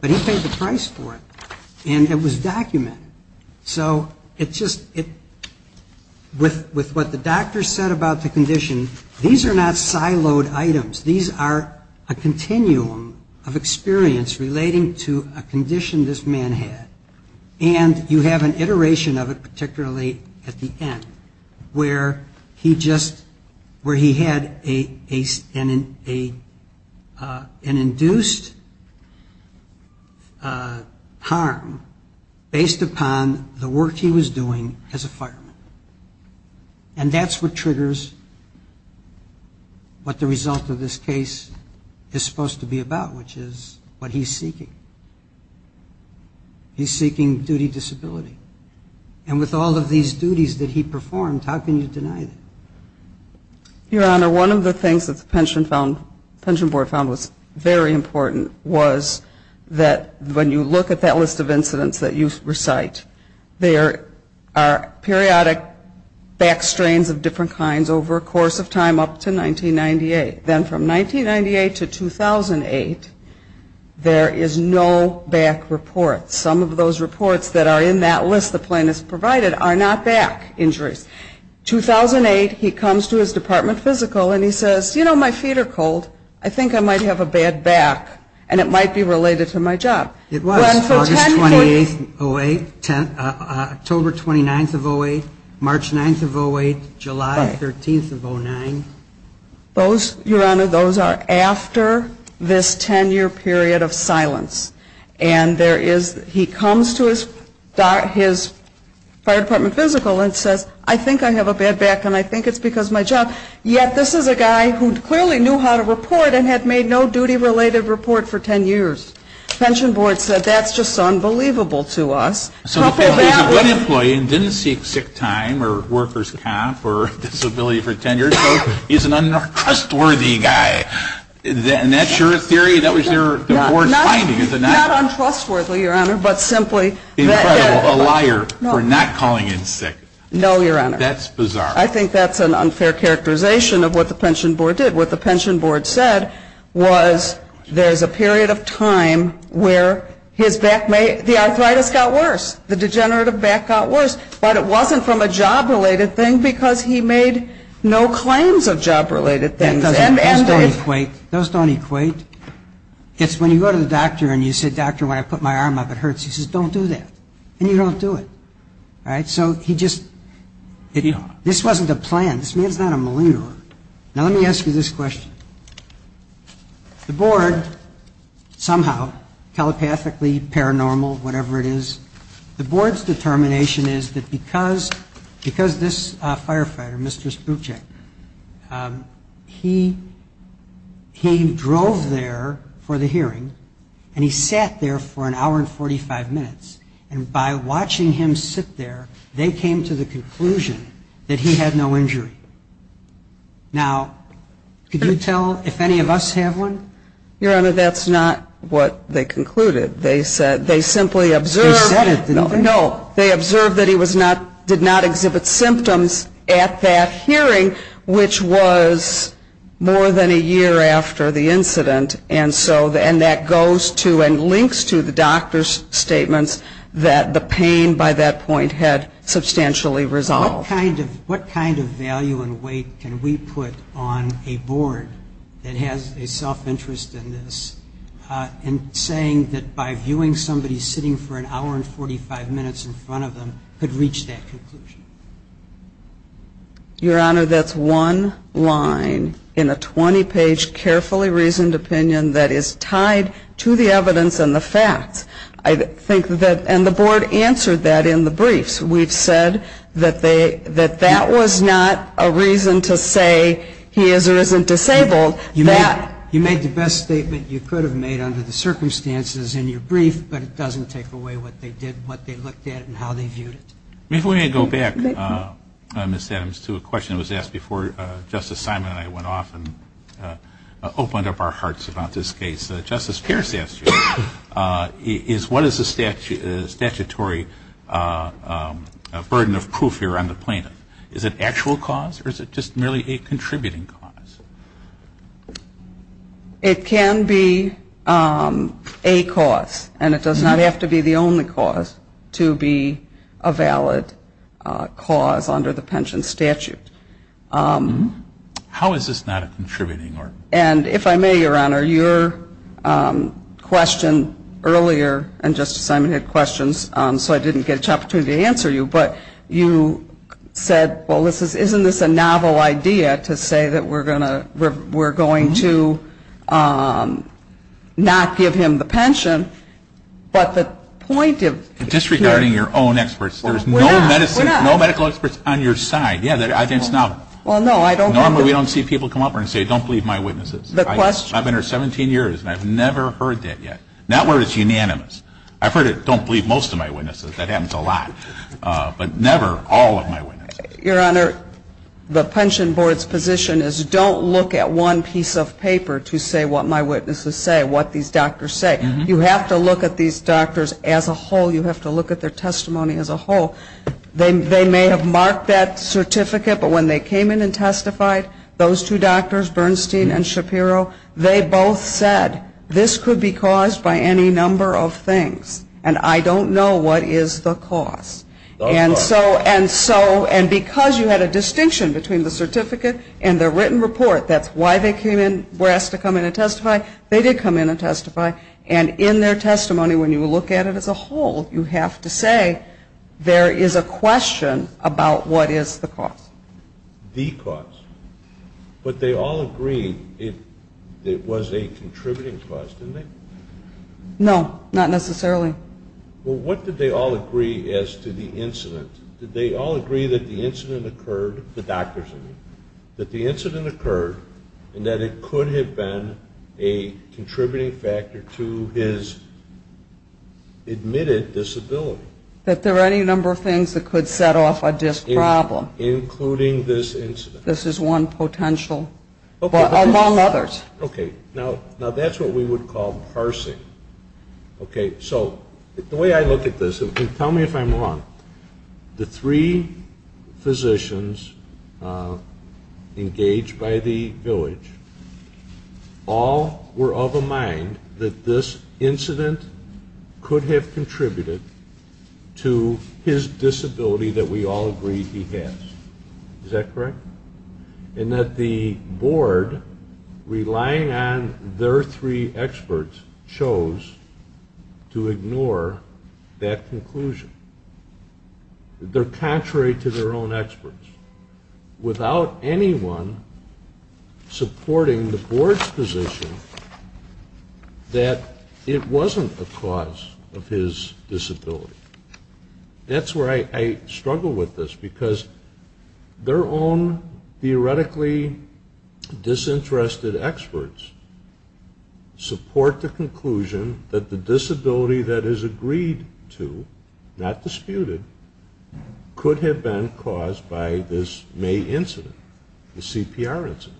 But he paid the price for it, and it was documented. So it just, with what the doctor said about the condition, these are not siloed items. These are a continuum of experience relating to a condition this man had. And you have an iteration of it, particularly at the end, where he just, where he had an induced harm based upon the work he was doing as a fireman. And that's what triggers what the result of this case is supposed to be about, which is what he's seeking. He's seeking duty disability. And with all of these duties that he performed, how can you deny that? Your Honor, one of the things that the court found very important was that when you look at that list of incidents that you recite, there are periodic back strains of different kinds over a course of time up to 1998. Then from 1998 to 2008, there is no back reports. Some of those reports that are in that list the plaintiff's provided are not back injuries. 2008, he comes to his department physical, and he says, you know, my feet are cold. I think I might have a bad back. And it might be related to my job. It was. August 28th, 08. October 29th of 08. March 9th of 08. July 13th of 09. Those, Your Honor, those are after this 10-year period of silence. And there is, he comes to his fire department physical and says, I think I have a bad back, and I think it's because of my job. Yet this is a guy who clearly knew how to report and had made no duty related report for 10 years. The pension board said, that's just unbelievable to us. So if he's a good employee and didn't seek sick time or worker's comp or disability for 10 years, he's an untrustworthy guy. And that's your theory? That was your board's finding? Not untrustworthy, Your Honor, but simply a liar for not calling in sick. No, Your Honor. That's bizarre. I think that's an unfair characterization of what the pension board did. What the pension board said was, there's a period of time where his back may, the arthritis got worse. The degenerative back got worse. But it wasn't from a job related thing because he made no claims of job related things. Those don't equate. Those don't equate. It's when you go to the doctor and you say, doctor, when I put my arm up, it hurts. He says, don't do that. And you don't do it. So he just, this wasn't a plan. This man's not a malingerer. Now let me ask you this question. The board, somehow, telepathically, paranormal, whatever it is, the board's determination is that because this firefighter, Mr. Sprucek, he drove there for the hearing and he sat there for an hour and 45 minutes. And by watching him sit there, they came to the conclusion that he had no injury. Now, could you tell if any of us have one? Your Honor, that's not what they concluded. They simply observed that he did not exhibit symptoms at that hearing, which was more than a year after the incident. And that goes to and links to the doctor's statements that the pain by that point had substantially resolved. What kind of value and weight can we put on a board that has a self-interest in this in saying that by viewing somebody sitting for an hour and 45 minutes in front of them could reach that conclusion? Your Honor, that's one line in a 20-page carefully reasoned opinion that is facts. And the board answered that in the briefs. We've said that that was not a reason to say he is or isn't disabled. You made the best statement you could have made under the circumstances in your brief, but it doesn't take away what they did, what they looked at, and how they viewed it. Before we go back, Ms. Adams, to a question that was asked before Justice Simon and I went off and opened up our hearts about this case, Justice Pierce asked you, is what is the statutory burden of proof here on the plaintiff? Is it actual cause or is it just merely a contributing cause? It can be a cause. And it does not have to be the only cause to be a valid cause under the pension statute. How is this not a contributing cause? And if I may, Your Honor, your question earlier, and Justice Simon had questions, so I didn't get a chance to answer you, but you said, well, isn't this a novel idea to say that we're going to not give him the pension, but the point of... Disregarding your own experts, there's no medical experts on your side. Normally we don't see people come up and say, don't believe my witnesses. I've been here 17 years and I've never heard that yet. Not where it's unanimous. I've heard it, don't believe most of my witnesses. That happens a lot. But never all of my witnesses. Your Honor, the pension board's position is don't look at one piece of paper to say what my witnesses say, what these doctors say. You have to look at these doctors as a whole. You have to look at their testimony as a whole. They may have marked that certificate, but when they came in and testified, those two doctors, Bernstein and Shapiro, they both said, this could be caused by any number of things. And I don't know what is the cause. And because you had a distinction between the certificate and the written report, that's why they were asked to come in and testify, they did come in and testify. And in their testimony, when you look at it as a whole, you have to say there is a question about what is the cause. The cause. But they all agreed it was a contributing cause, didn't they? No, not necessarily. Well, what did they all agree as to the incident? Did they all agree that the incident occurred the doctors, that the incident occurred and that it could have been a contributing factor to his admitted disability? That there were any number of things that could set off a disc problem. Including this incident. This is one potential. Among others. Now, that's what we would call parsing. The way I look at this, and tell me if I'm wrong, the three physicians engaged by the village, all were of a mind that this incident could have contributed to his disability that we all agree he has. Is that correct? And that the board relying on their three experts chose to ignore that conclusion. They're contrary to their own experts. Without anyone supporting the board's position that it wasn't a cause of his disability. That's where I struggle with this. Because their own theoretically disinterested experts support the conclusion that the disability that is agreed to, not disputed, could have been caused by this May incident. The CPR incident.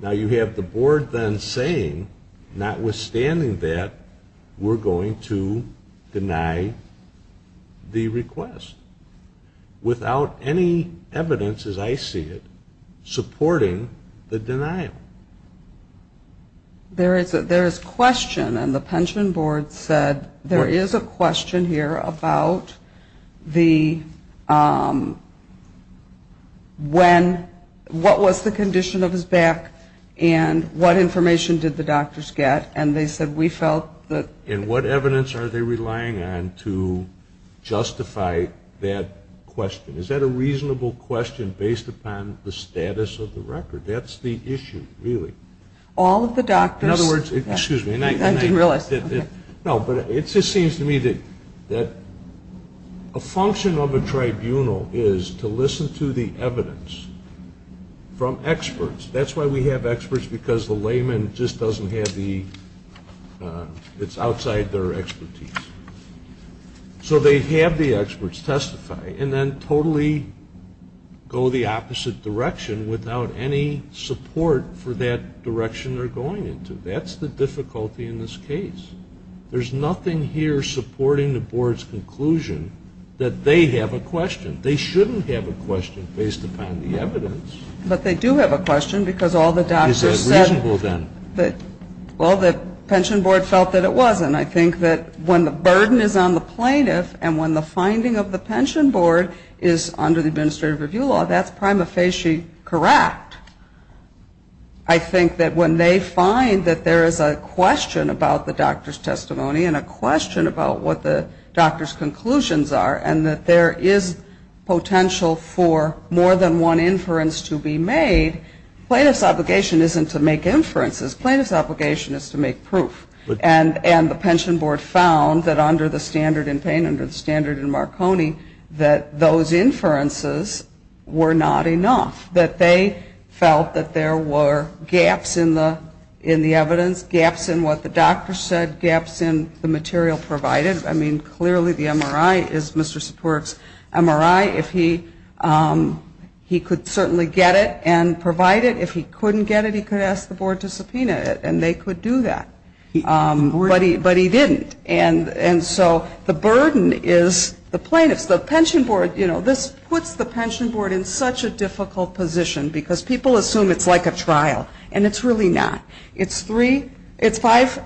Now, you have the board then saying, notwithstanding that, we're going to deny the request. Without any evidence, as I see it, supporting the denial. There is question, and the pension board said, there is a question here about the disability, when, what was the condition of his back, and what information did the doctors get. And they said, we felt that. And what evidence are they relying on to justify that question? Is that a reasonable question based upon the status of the record? That's the issue, really. All of the doctors. In other words, excuse me. I didn't realize. No, but it just seems to me that a function of a tribunal is to listen to the evidence from experts. That's why we have experts, because the layman just doesn't have the it's outside their expertise. So they have the experts testify, and then totally go the opposite direction without any support for that direction they're going into. That's the difficulty in this case. There's nothing here supporting the board's conclusion that they have a question. They shouldn't have a question based upon the evidence. But they do have a question, because all the doctors said. Is that reasonable, then? Well, the pension board felt that it was, and I think that when the burden is on the plaintiff, and when the finding of the pension board is under the administrative review law, that's prima facie correct. I think that when they find that there is a question about the doctor's testimony, and a question about what the doctor's conclusions are, and that there is potential for more than one inference to be made, plaintiff's obligation isn't to make inferences. Plaintiff's obligation is to make proof. And the pension board found that under the standard in Payne, under the standard in Marconi, that those inferences were not enough. That they felt that there were gaps in the evidence, gaps in what the doctor said, gaps in the material provided. I mean, clearly the MRI is Mr. Sapoorik's MRI. He could certainly get it and provide it. If he couldn't get it, he could ask the board to subpoena it, and they could do that. But he didn't. And so the burden is the plaintiff's. The pension board, you know, this puts the pension board in such a difficult position, because people assume it's like a trial. And it's really not. It's three, it's five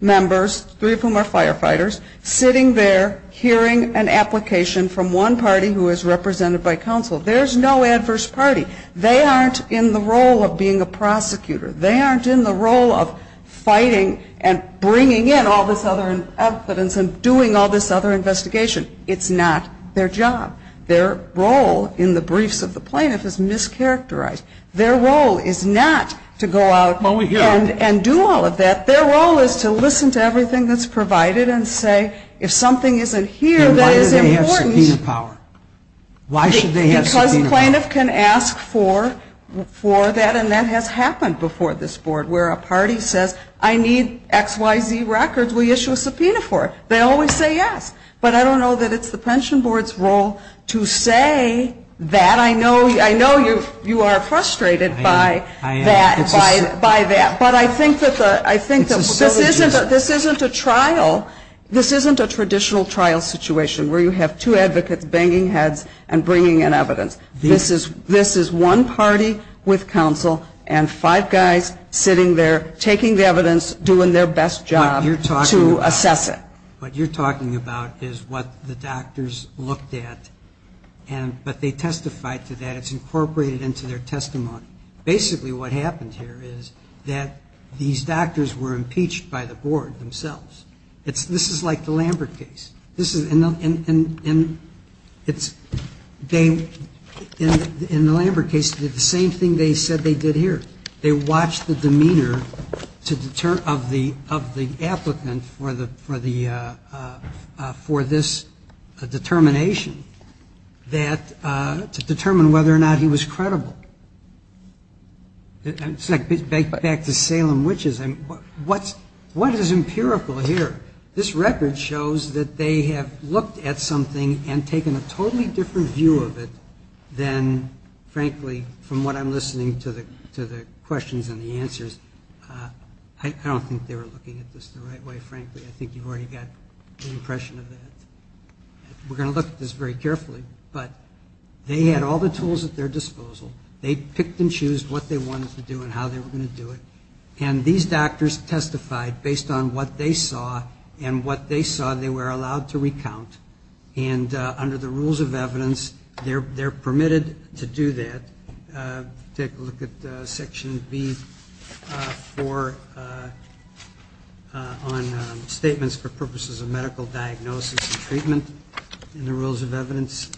members, three of whom are firefighters, sitting there hearing an application from one party who is represented by counsel. There's no adverse party. They aren't in the role of being a prosecutor. They aren't in the role of fighting and bringing in all this other evidence and doing all this other investigation. It's not their job. Their role in the briefs of the plaintiff is characterized. Their role is not to go out and do all of that. Their role is to listen to everything that's provided and say, if something isn't here that is important. Why should they have subpoena power? Because the plaintiff can ask for that, and that has happened before this board, where a party says I need X, Y, Z records. Will you issue a subpoena for it? They always say yes. But I don't know that it's the pension board's role to say that. I know you are frustrated by that. But I think that this isn't a trial, this isn't a traditional trial situation where you have two advocates banging heads and bringing in evidence. This is one party with counsel and five guys sitting there taking the evidence, doing their best job to assess it. What you're talking about is what the doctors looked at but they testified to that. It's incorporated into their testimony. Basically what happened here is that these doctors were impeached by the board themselves. This is like the Lambert case. This is, and it's, they in the Lambert case did the same thing they said they did here. They watched the demeanor of the applicant for this determination to determine whether or not he was credible. It's like back to Salem witches. What is empirical here? This record shows that they have looked at something and taken a totally different view of it than frankly from what I'm listening to the questions and the answers. I don't think they were looking at this the right way, frankly. I think you've already got the impression of that. We're going to look at this very carefully, but they had all the tools at their disposal. They picked and chose what they wanted to do and how they were going to do it. And these doctors testified based on what they saw and what they saw they were allowed to recount. And under the rules of evidence they're permitted to do that. Take a look at section B on statements for purposes of medical diagnosis and treatment in the rules of evidence.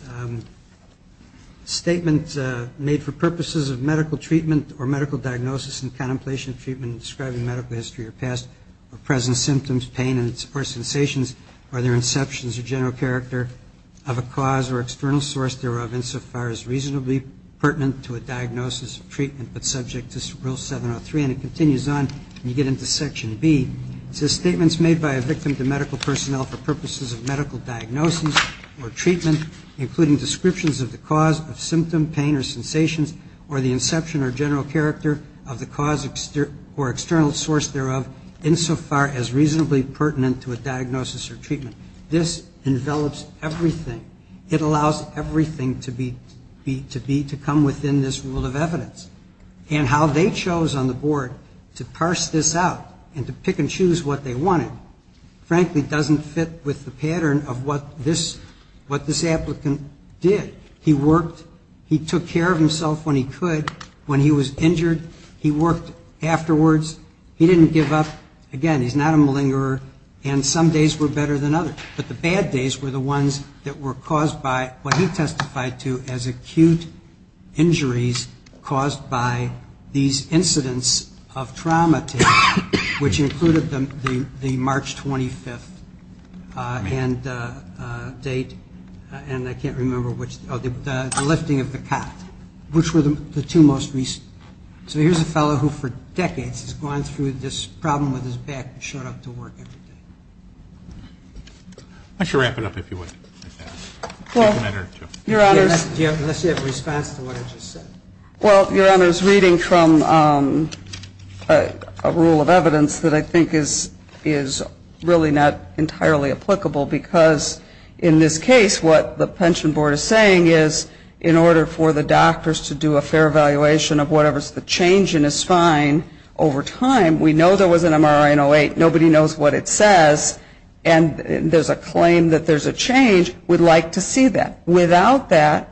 Statement made for purposes of medical treatment or medical diagnosis and contemplation of treatment in describing medical history or past or present symptoms, pain or sensations. Are there inceptions or general character of a cause or external source thereof insofar as reasonably pertinent to a diagnosis or treatment but subject to rule 703? And it continues on when you get into section B. It says statements made by a victim to medical personnel for purposes of medical diagnosis or treatment including descriptions of the cause of symptom, pain or sensations or the inception or general character of the cause or external source thereof insofar as reasonably pertinent to a diagnosis or treatment. This envelops everything. It allows everything to be to come within this rule of evidence. And how they chose on the board to parse this out and to pick and choose what they wanted frankly doesn't fit with the pattern of what this applicant did. He worked. He took care of himself when he could. When he was injured he worked afterwards. He didn't give up. Again, he's not a malingerer. And some days were better than others. But the bad days were the ones that were caused by what he testified to as acute injuries caused by these incidents of trauma to him which included the March 25th date and I can't remember which, the lifting of the cot, which were the two most recent. So here's a fellow who for decades has gone through this problem with his back and showed up to work every day. I should wrap it up if you would. Unless you have a response to what I just said. Well, Your Honors, reading from a rule of evidence that I think is really not entirely applicable because in this case what the pension board is saying is in order for the doctors to do a fair evaluation of whatever's the change in his spine over time, we know there was an MRI in 08. Nobody knows what it says. And there's a claim that there's a change. We'd like to see that. Without that,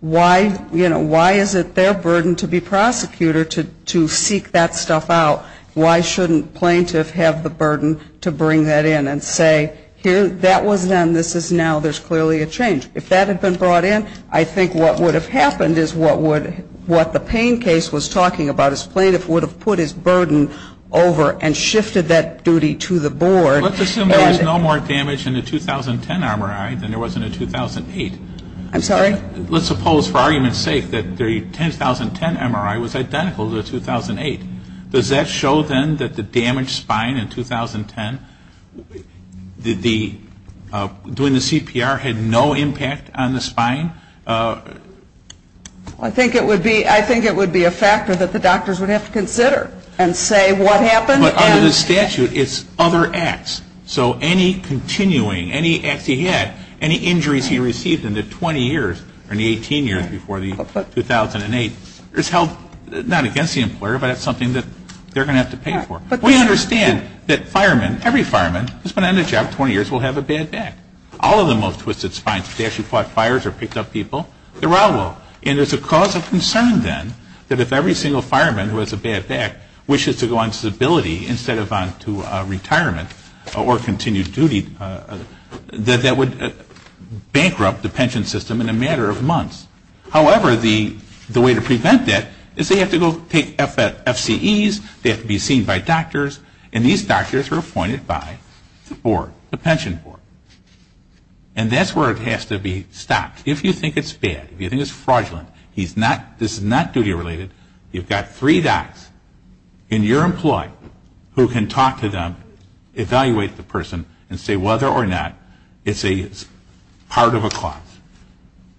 why, you know, why is it their burden to be prosecutor to seek that stuff out? Why shouldn't plaintiff have the burden to bring that in and say that was then, this is now, there's clearly a change. If that had been brought in, I think what would have happened is what the Payne case was talking about is plaintiff would have put his burden over and shifted that duty to the board. Let's assume there was no more damage in the 2010 MRI than there was in the 2008. I'm sorry? Let's suppose for argument's sake that the 2010 MRI was identical to the 2008. Does that show then that the damaged spine in 2010 during the CPR had no impact on the spine? I think it would be a factor that the doctors would have to consider and say what happened. But under the statute, it's other acts. So any continuing, any acts he had, any injuries he received in the 20 years or in the 18 years before the 2008 is held not against the employer, but it's something that they're going to have to pay for. We understand that firemen, every fireman who's been on the job 20 years will have a bad back. All of them will have twisted spines. If they actually fought fires or picked up people, they're all will. And there's a cause of concern then that if every single fireman who has a bad back wishes to go on disability instead of on to retirement or continued duty, that that would bankrupt the pension system in a matter of months. However, the way to prevent that is they have to go take FCEs, they have to be seen by doctors, and these doctors are appointed by the board, the pension board. And that's where it has to be stopped. If you think it's bad, if you think it's fraudulent, this is not active duty related. You've got three docs in your employee who can talk to them, evaluate the person, and say whether or not it's a part of a cause.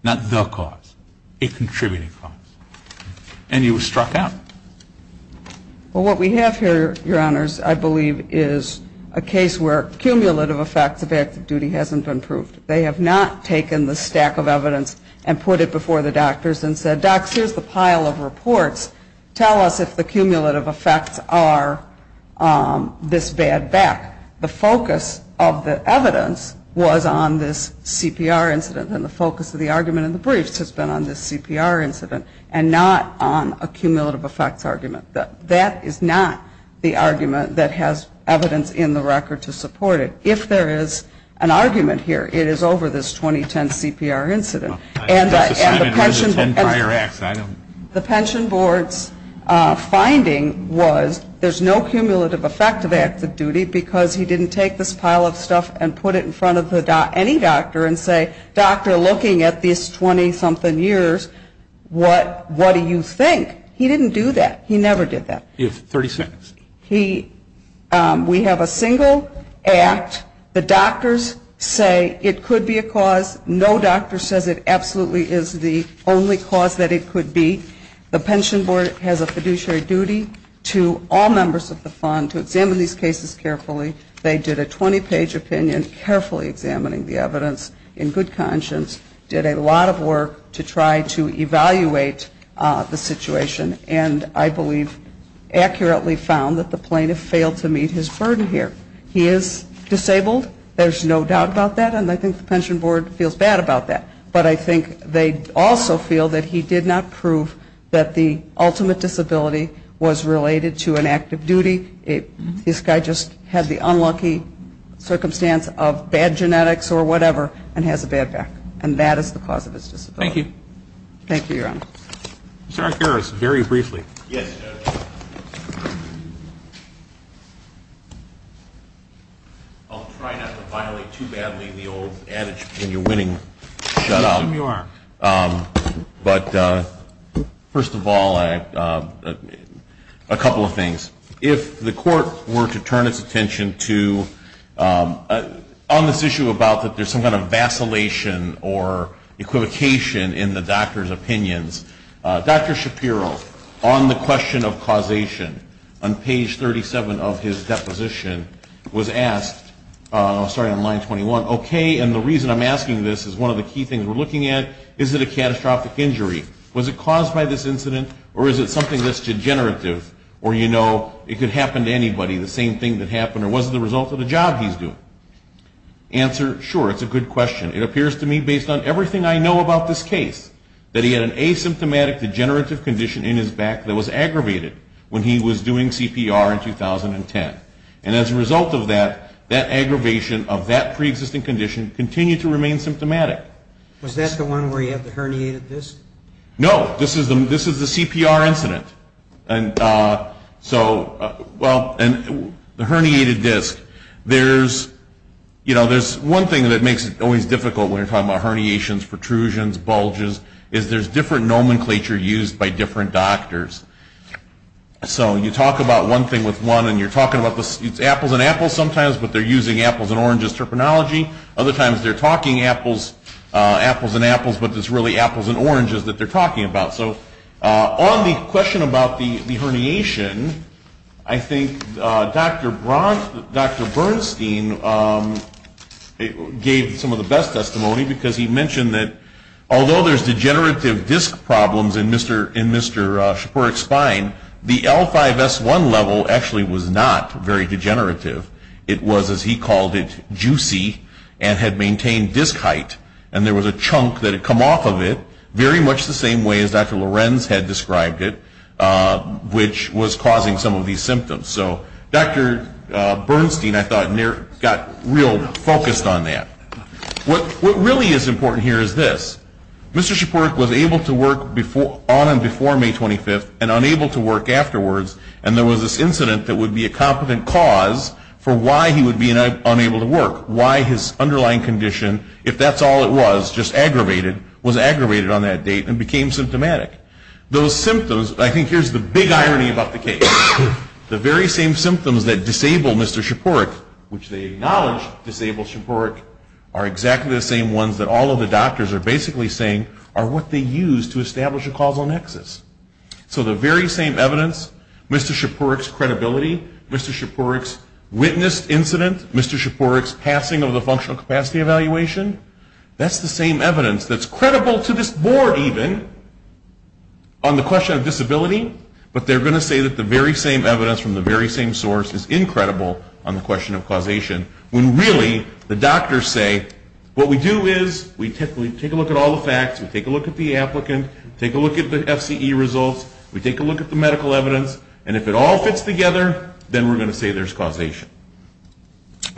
Not the cause. A contributing cause. And you were struck out. Well, what we have here, Your Honors, I believe is a case where cumulative effects of active duty hasn't been proved. They have not taken the stack of evidence and put it before the board. The cumulative effects of reports tell us if the cumulative effects are this bad back. The focus of the evidence was on this CPR incident and the focus of the argument in the briefs has been on this CPR incident and not on a cumulative effects argument. That is not the argument that has evidence in the record to support it. If there is an argument here, it is over this 2010 CPR incident. The pension board's finding was there is no cumulative effect of active duty because he didn't take this pile of stuff and put it in front of any doctor and say, doctor, looking at this 20-something years, what do you think? He didn't do that. He never did that. We have a single act. The doctors say it could be a cause. No doctor says it absolutely is the only cause that it could be. The pension board has a fiduciary duty to all members of the fund to examine these cases carefully. They did a 20-page opinion carefully examining the evidence in good conscience, did a lot of work to try to evaluate the situation and I believe accurately found that the plaintiff failed to meet his burden here. He is disabled. There is no doubt about that and I think the pension board feels bad about that. But I think they also feel that he did not prove that the ultimate disability was related to an active duty. This guy just had the unlucky circumstance of bad genetics or whatever and has a bad back. And that is the cause of his disability. Thank you. Thank you, Your Honor. Mr. Arcarus, very briefly. Yes, Judge. I'll try not to violate too badly the old adage when you're winning, shut up. But first of all, a couple of things. If the court were to turn its attention to, on this issue about that there is some kind of vacillation or equivocation in the doctor's opinions, Dr. Shapiro, on the question of causation, on page 37 of his deposition was asked, starting on line 21, okay, and the reason I'm asking this is one of the key things we're looking at, is it a catastrophic injury? Was it caused by this incident or is it something that's degenerative or you know it could happen to anybody, the same thing that happened or was it the result of the job he's doing? Answer, sure, it's a good question. It appears to me, based on everything I know about this case, that he had an asymptomatic degenerative condition in his back that was aggravated when he was doing CPR in 2010. And as a result of that, that aggravation of that pre-existing condition continued to remain symptomatic. Was that the one where you had the herniated disc? No, this is the CPR incident. And so, well, the herniated disc, there's, you know, there's one thing that makes it always difficult when you're talking about herniations, protrusions, bulges, is there's different nomenclature used by different doctors. So you talk about one thing with one and you're talking about, it's apples and apples sometimes, but they're using apples and oranges terminology. Other times, they're talking apples and apples, but it's really apples and oranges that they're talking about. So on the question about the herniation, I think Dr. Bernstein gave some of the best testimony because he mentioned that although there's degenerative disc problems in Mr. Shapirok's spine, the L5S1 level actually was not very degenerative. It was, as he called it, juicy and had maintained disc height. And there was a chunk that had come off of it, very much the same way as Dr. Lorenz had described it, which was causing some of these symptoms. So, Dr. Bernstein, I thought, got real focused on that. What really is important here is this. Mr. Shapirok was able to work on and before May 25th and unable to work afterwards, and there was this incident that would be a competent cause for why he would be unable to work, why his underlying condition, if that's all it was, just aggravated, was aggravated on that date and became symptomatic. Those symptoms, I think here's the big irony about the case. The very same symptoms that disable Mr. Shapirok, which they are exactly the same ones that all of the doctors are basically saying are what they used to establish a causal nexus. So the very same evidence, Mr. Shapirok's credibility, Mr. Shapirok's witnessed incident, Mr. Shapirok's passing of the functional capacity evaluation, that's the same evidence that's credible to this board even on the question of disability, but they're going to say that the very same evidence from the very same source is incredible on the question of causation when really the doctors say what we do is we take a look at all the facts, we take a look at the applicant, we take a look at the FCE results, we take a look at the medical evidence, and if it all fits together then we're going to say there's causation.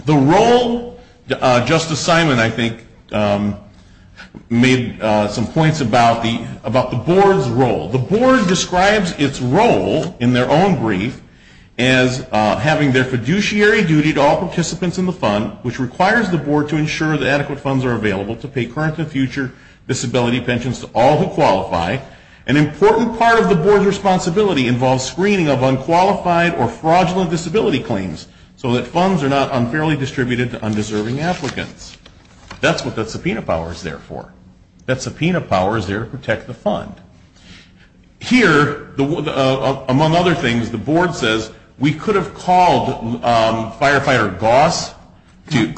The role Justice Simon, I think, made some points about the board's role. The board describes its role in their own brief as having their disability pensions in the fund, which requires the board to ensure that adequate funds are available to pay current and future disability pensions to all who qualify. An important part of the board's responsibility involves screening of unqualified or fraudulent disability claims so that funds are not unfairly distributed to undeserving applicants. That's what the subpoena power is there for. That subpoena power is there to protect the fund. Here, among other things, the board says we could have called Firefighter Goss to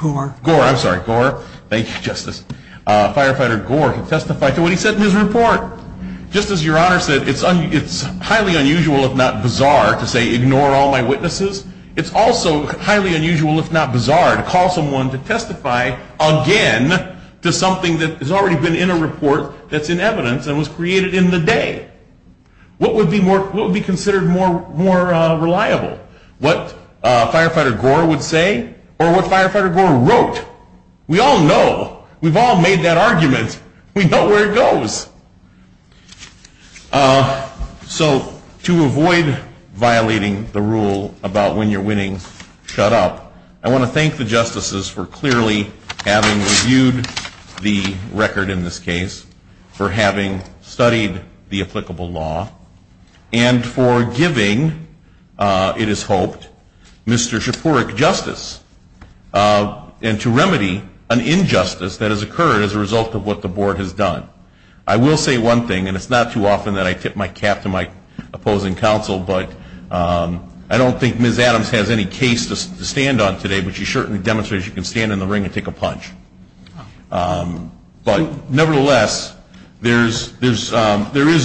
testify to what he said in his report. Just as Your Honor said, it's highly unusual if not bizarre to say ignore all my witnesses, it's also highly unusual if not bizarre to call someone to testify again to something that has already been in a report that's in evidence and was created in the day. What would be considered more reliable? What Firefighter Gore would say? Or what Firefighter Gore wrote? We all know. We've all made that argument. We know where it goes. So to avoid violating the rule about when you're winning, shut up. I want to thank the justices for clearly having reviewed the record in this case, for having studied the applicable law, and for giving, it is hoped, Mr. Shapourick justice, and to remedy an injustice that has occurred as a result of what the board has done. I will say one thing, and it's not too often that I tip my cap to my opposing counsel, but I don't think Ms. Adams has any case to stand on today, but she certainly demonstrated she can stand in the ring and take a punch. But nevertheless, there is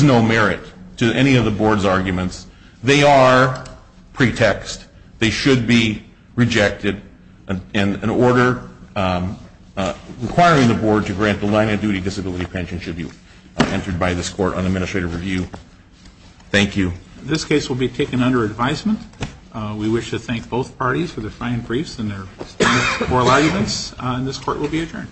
no merit to any of the board's arguments. They are pretext. They should be rejected. And an order requiring the board to grant the line of duty disability pension should be entered by this court on administrative review. Thank you. This case will be taken under advisement. We wish to thank both parties for their fine briefs and their oral arguments. And this court will be adjourned.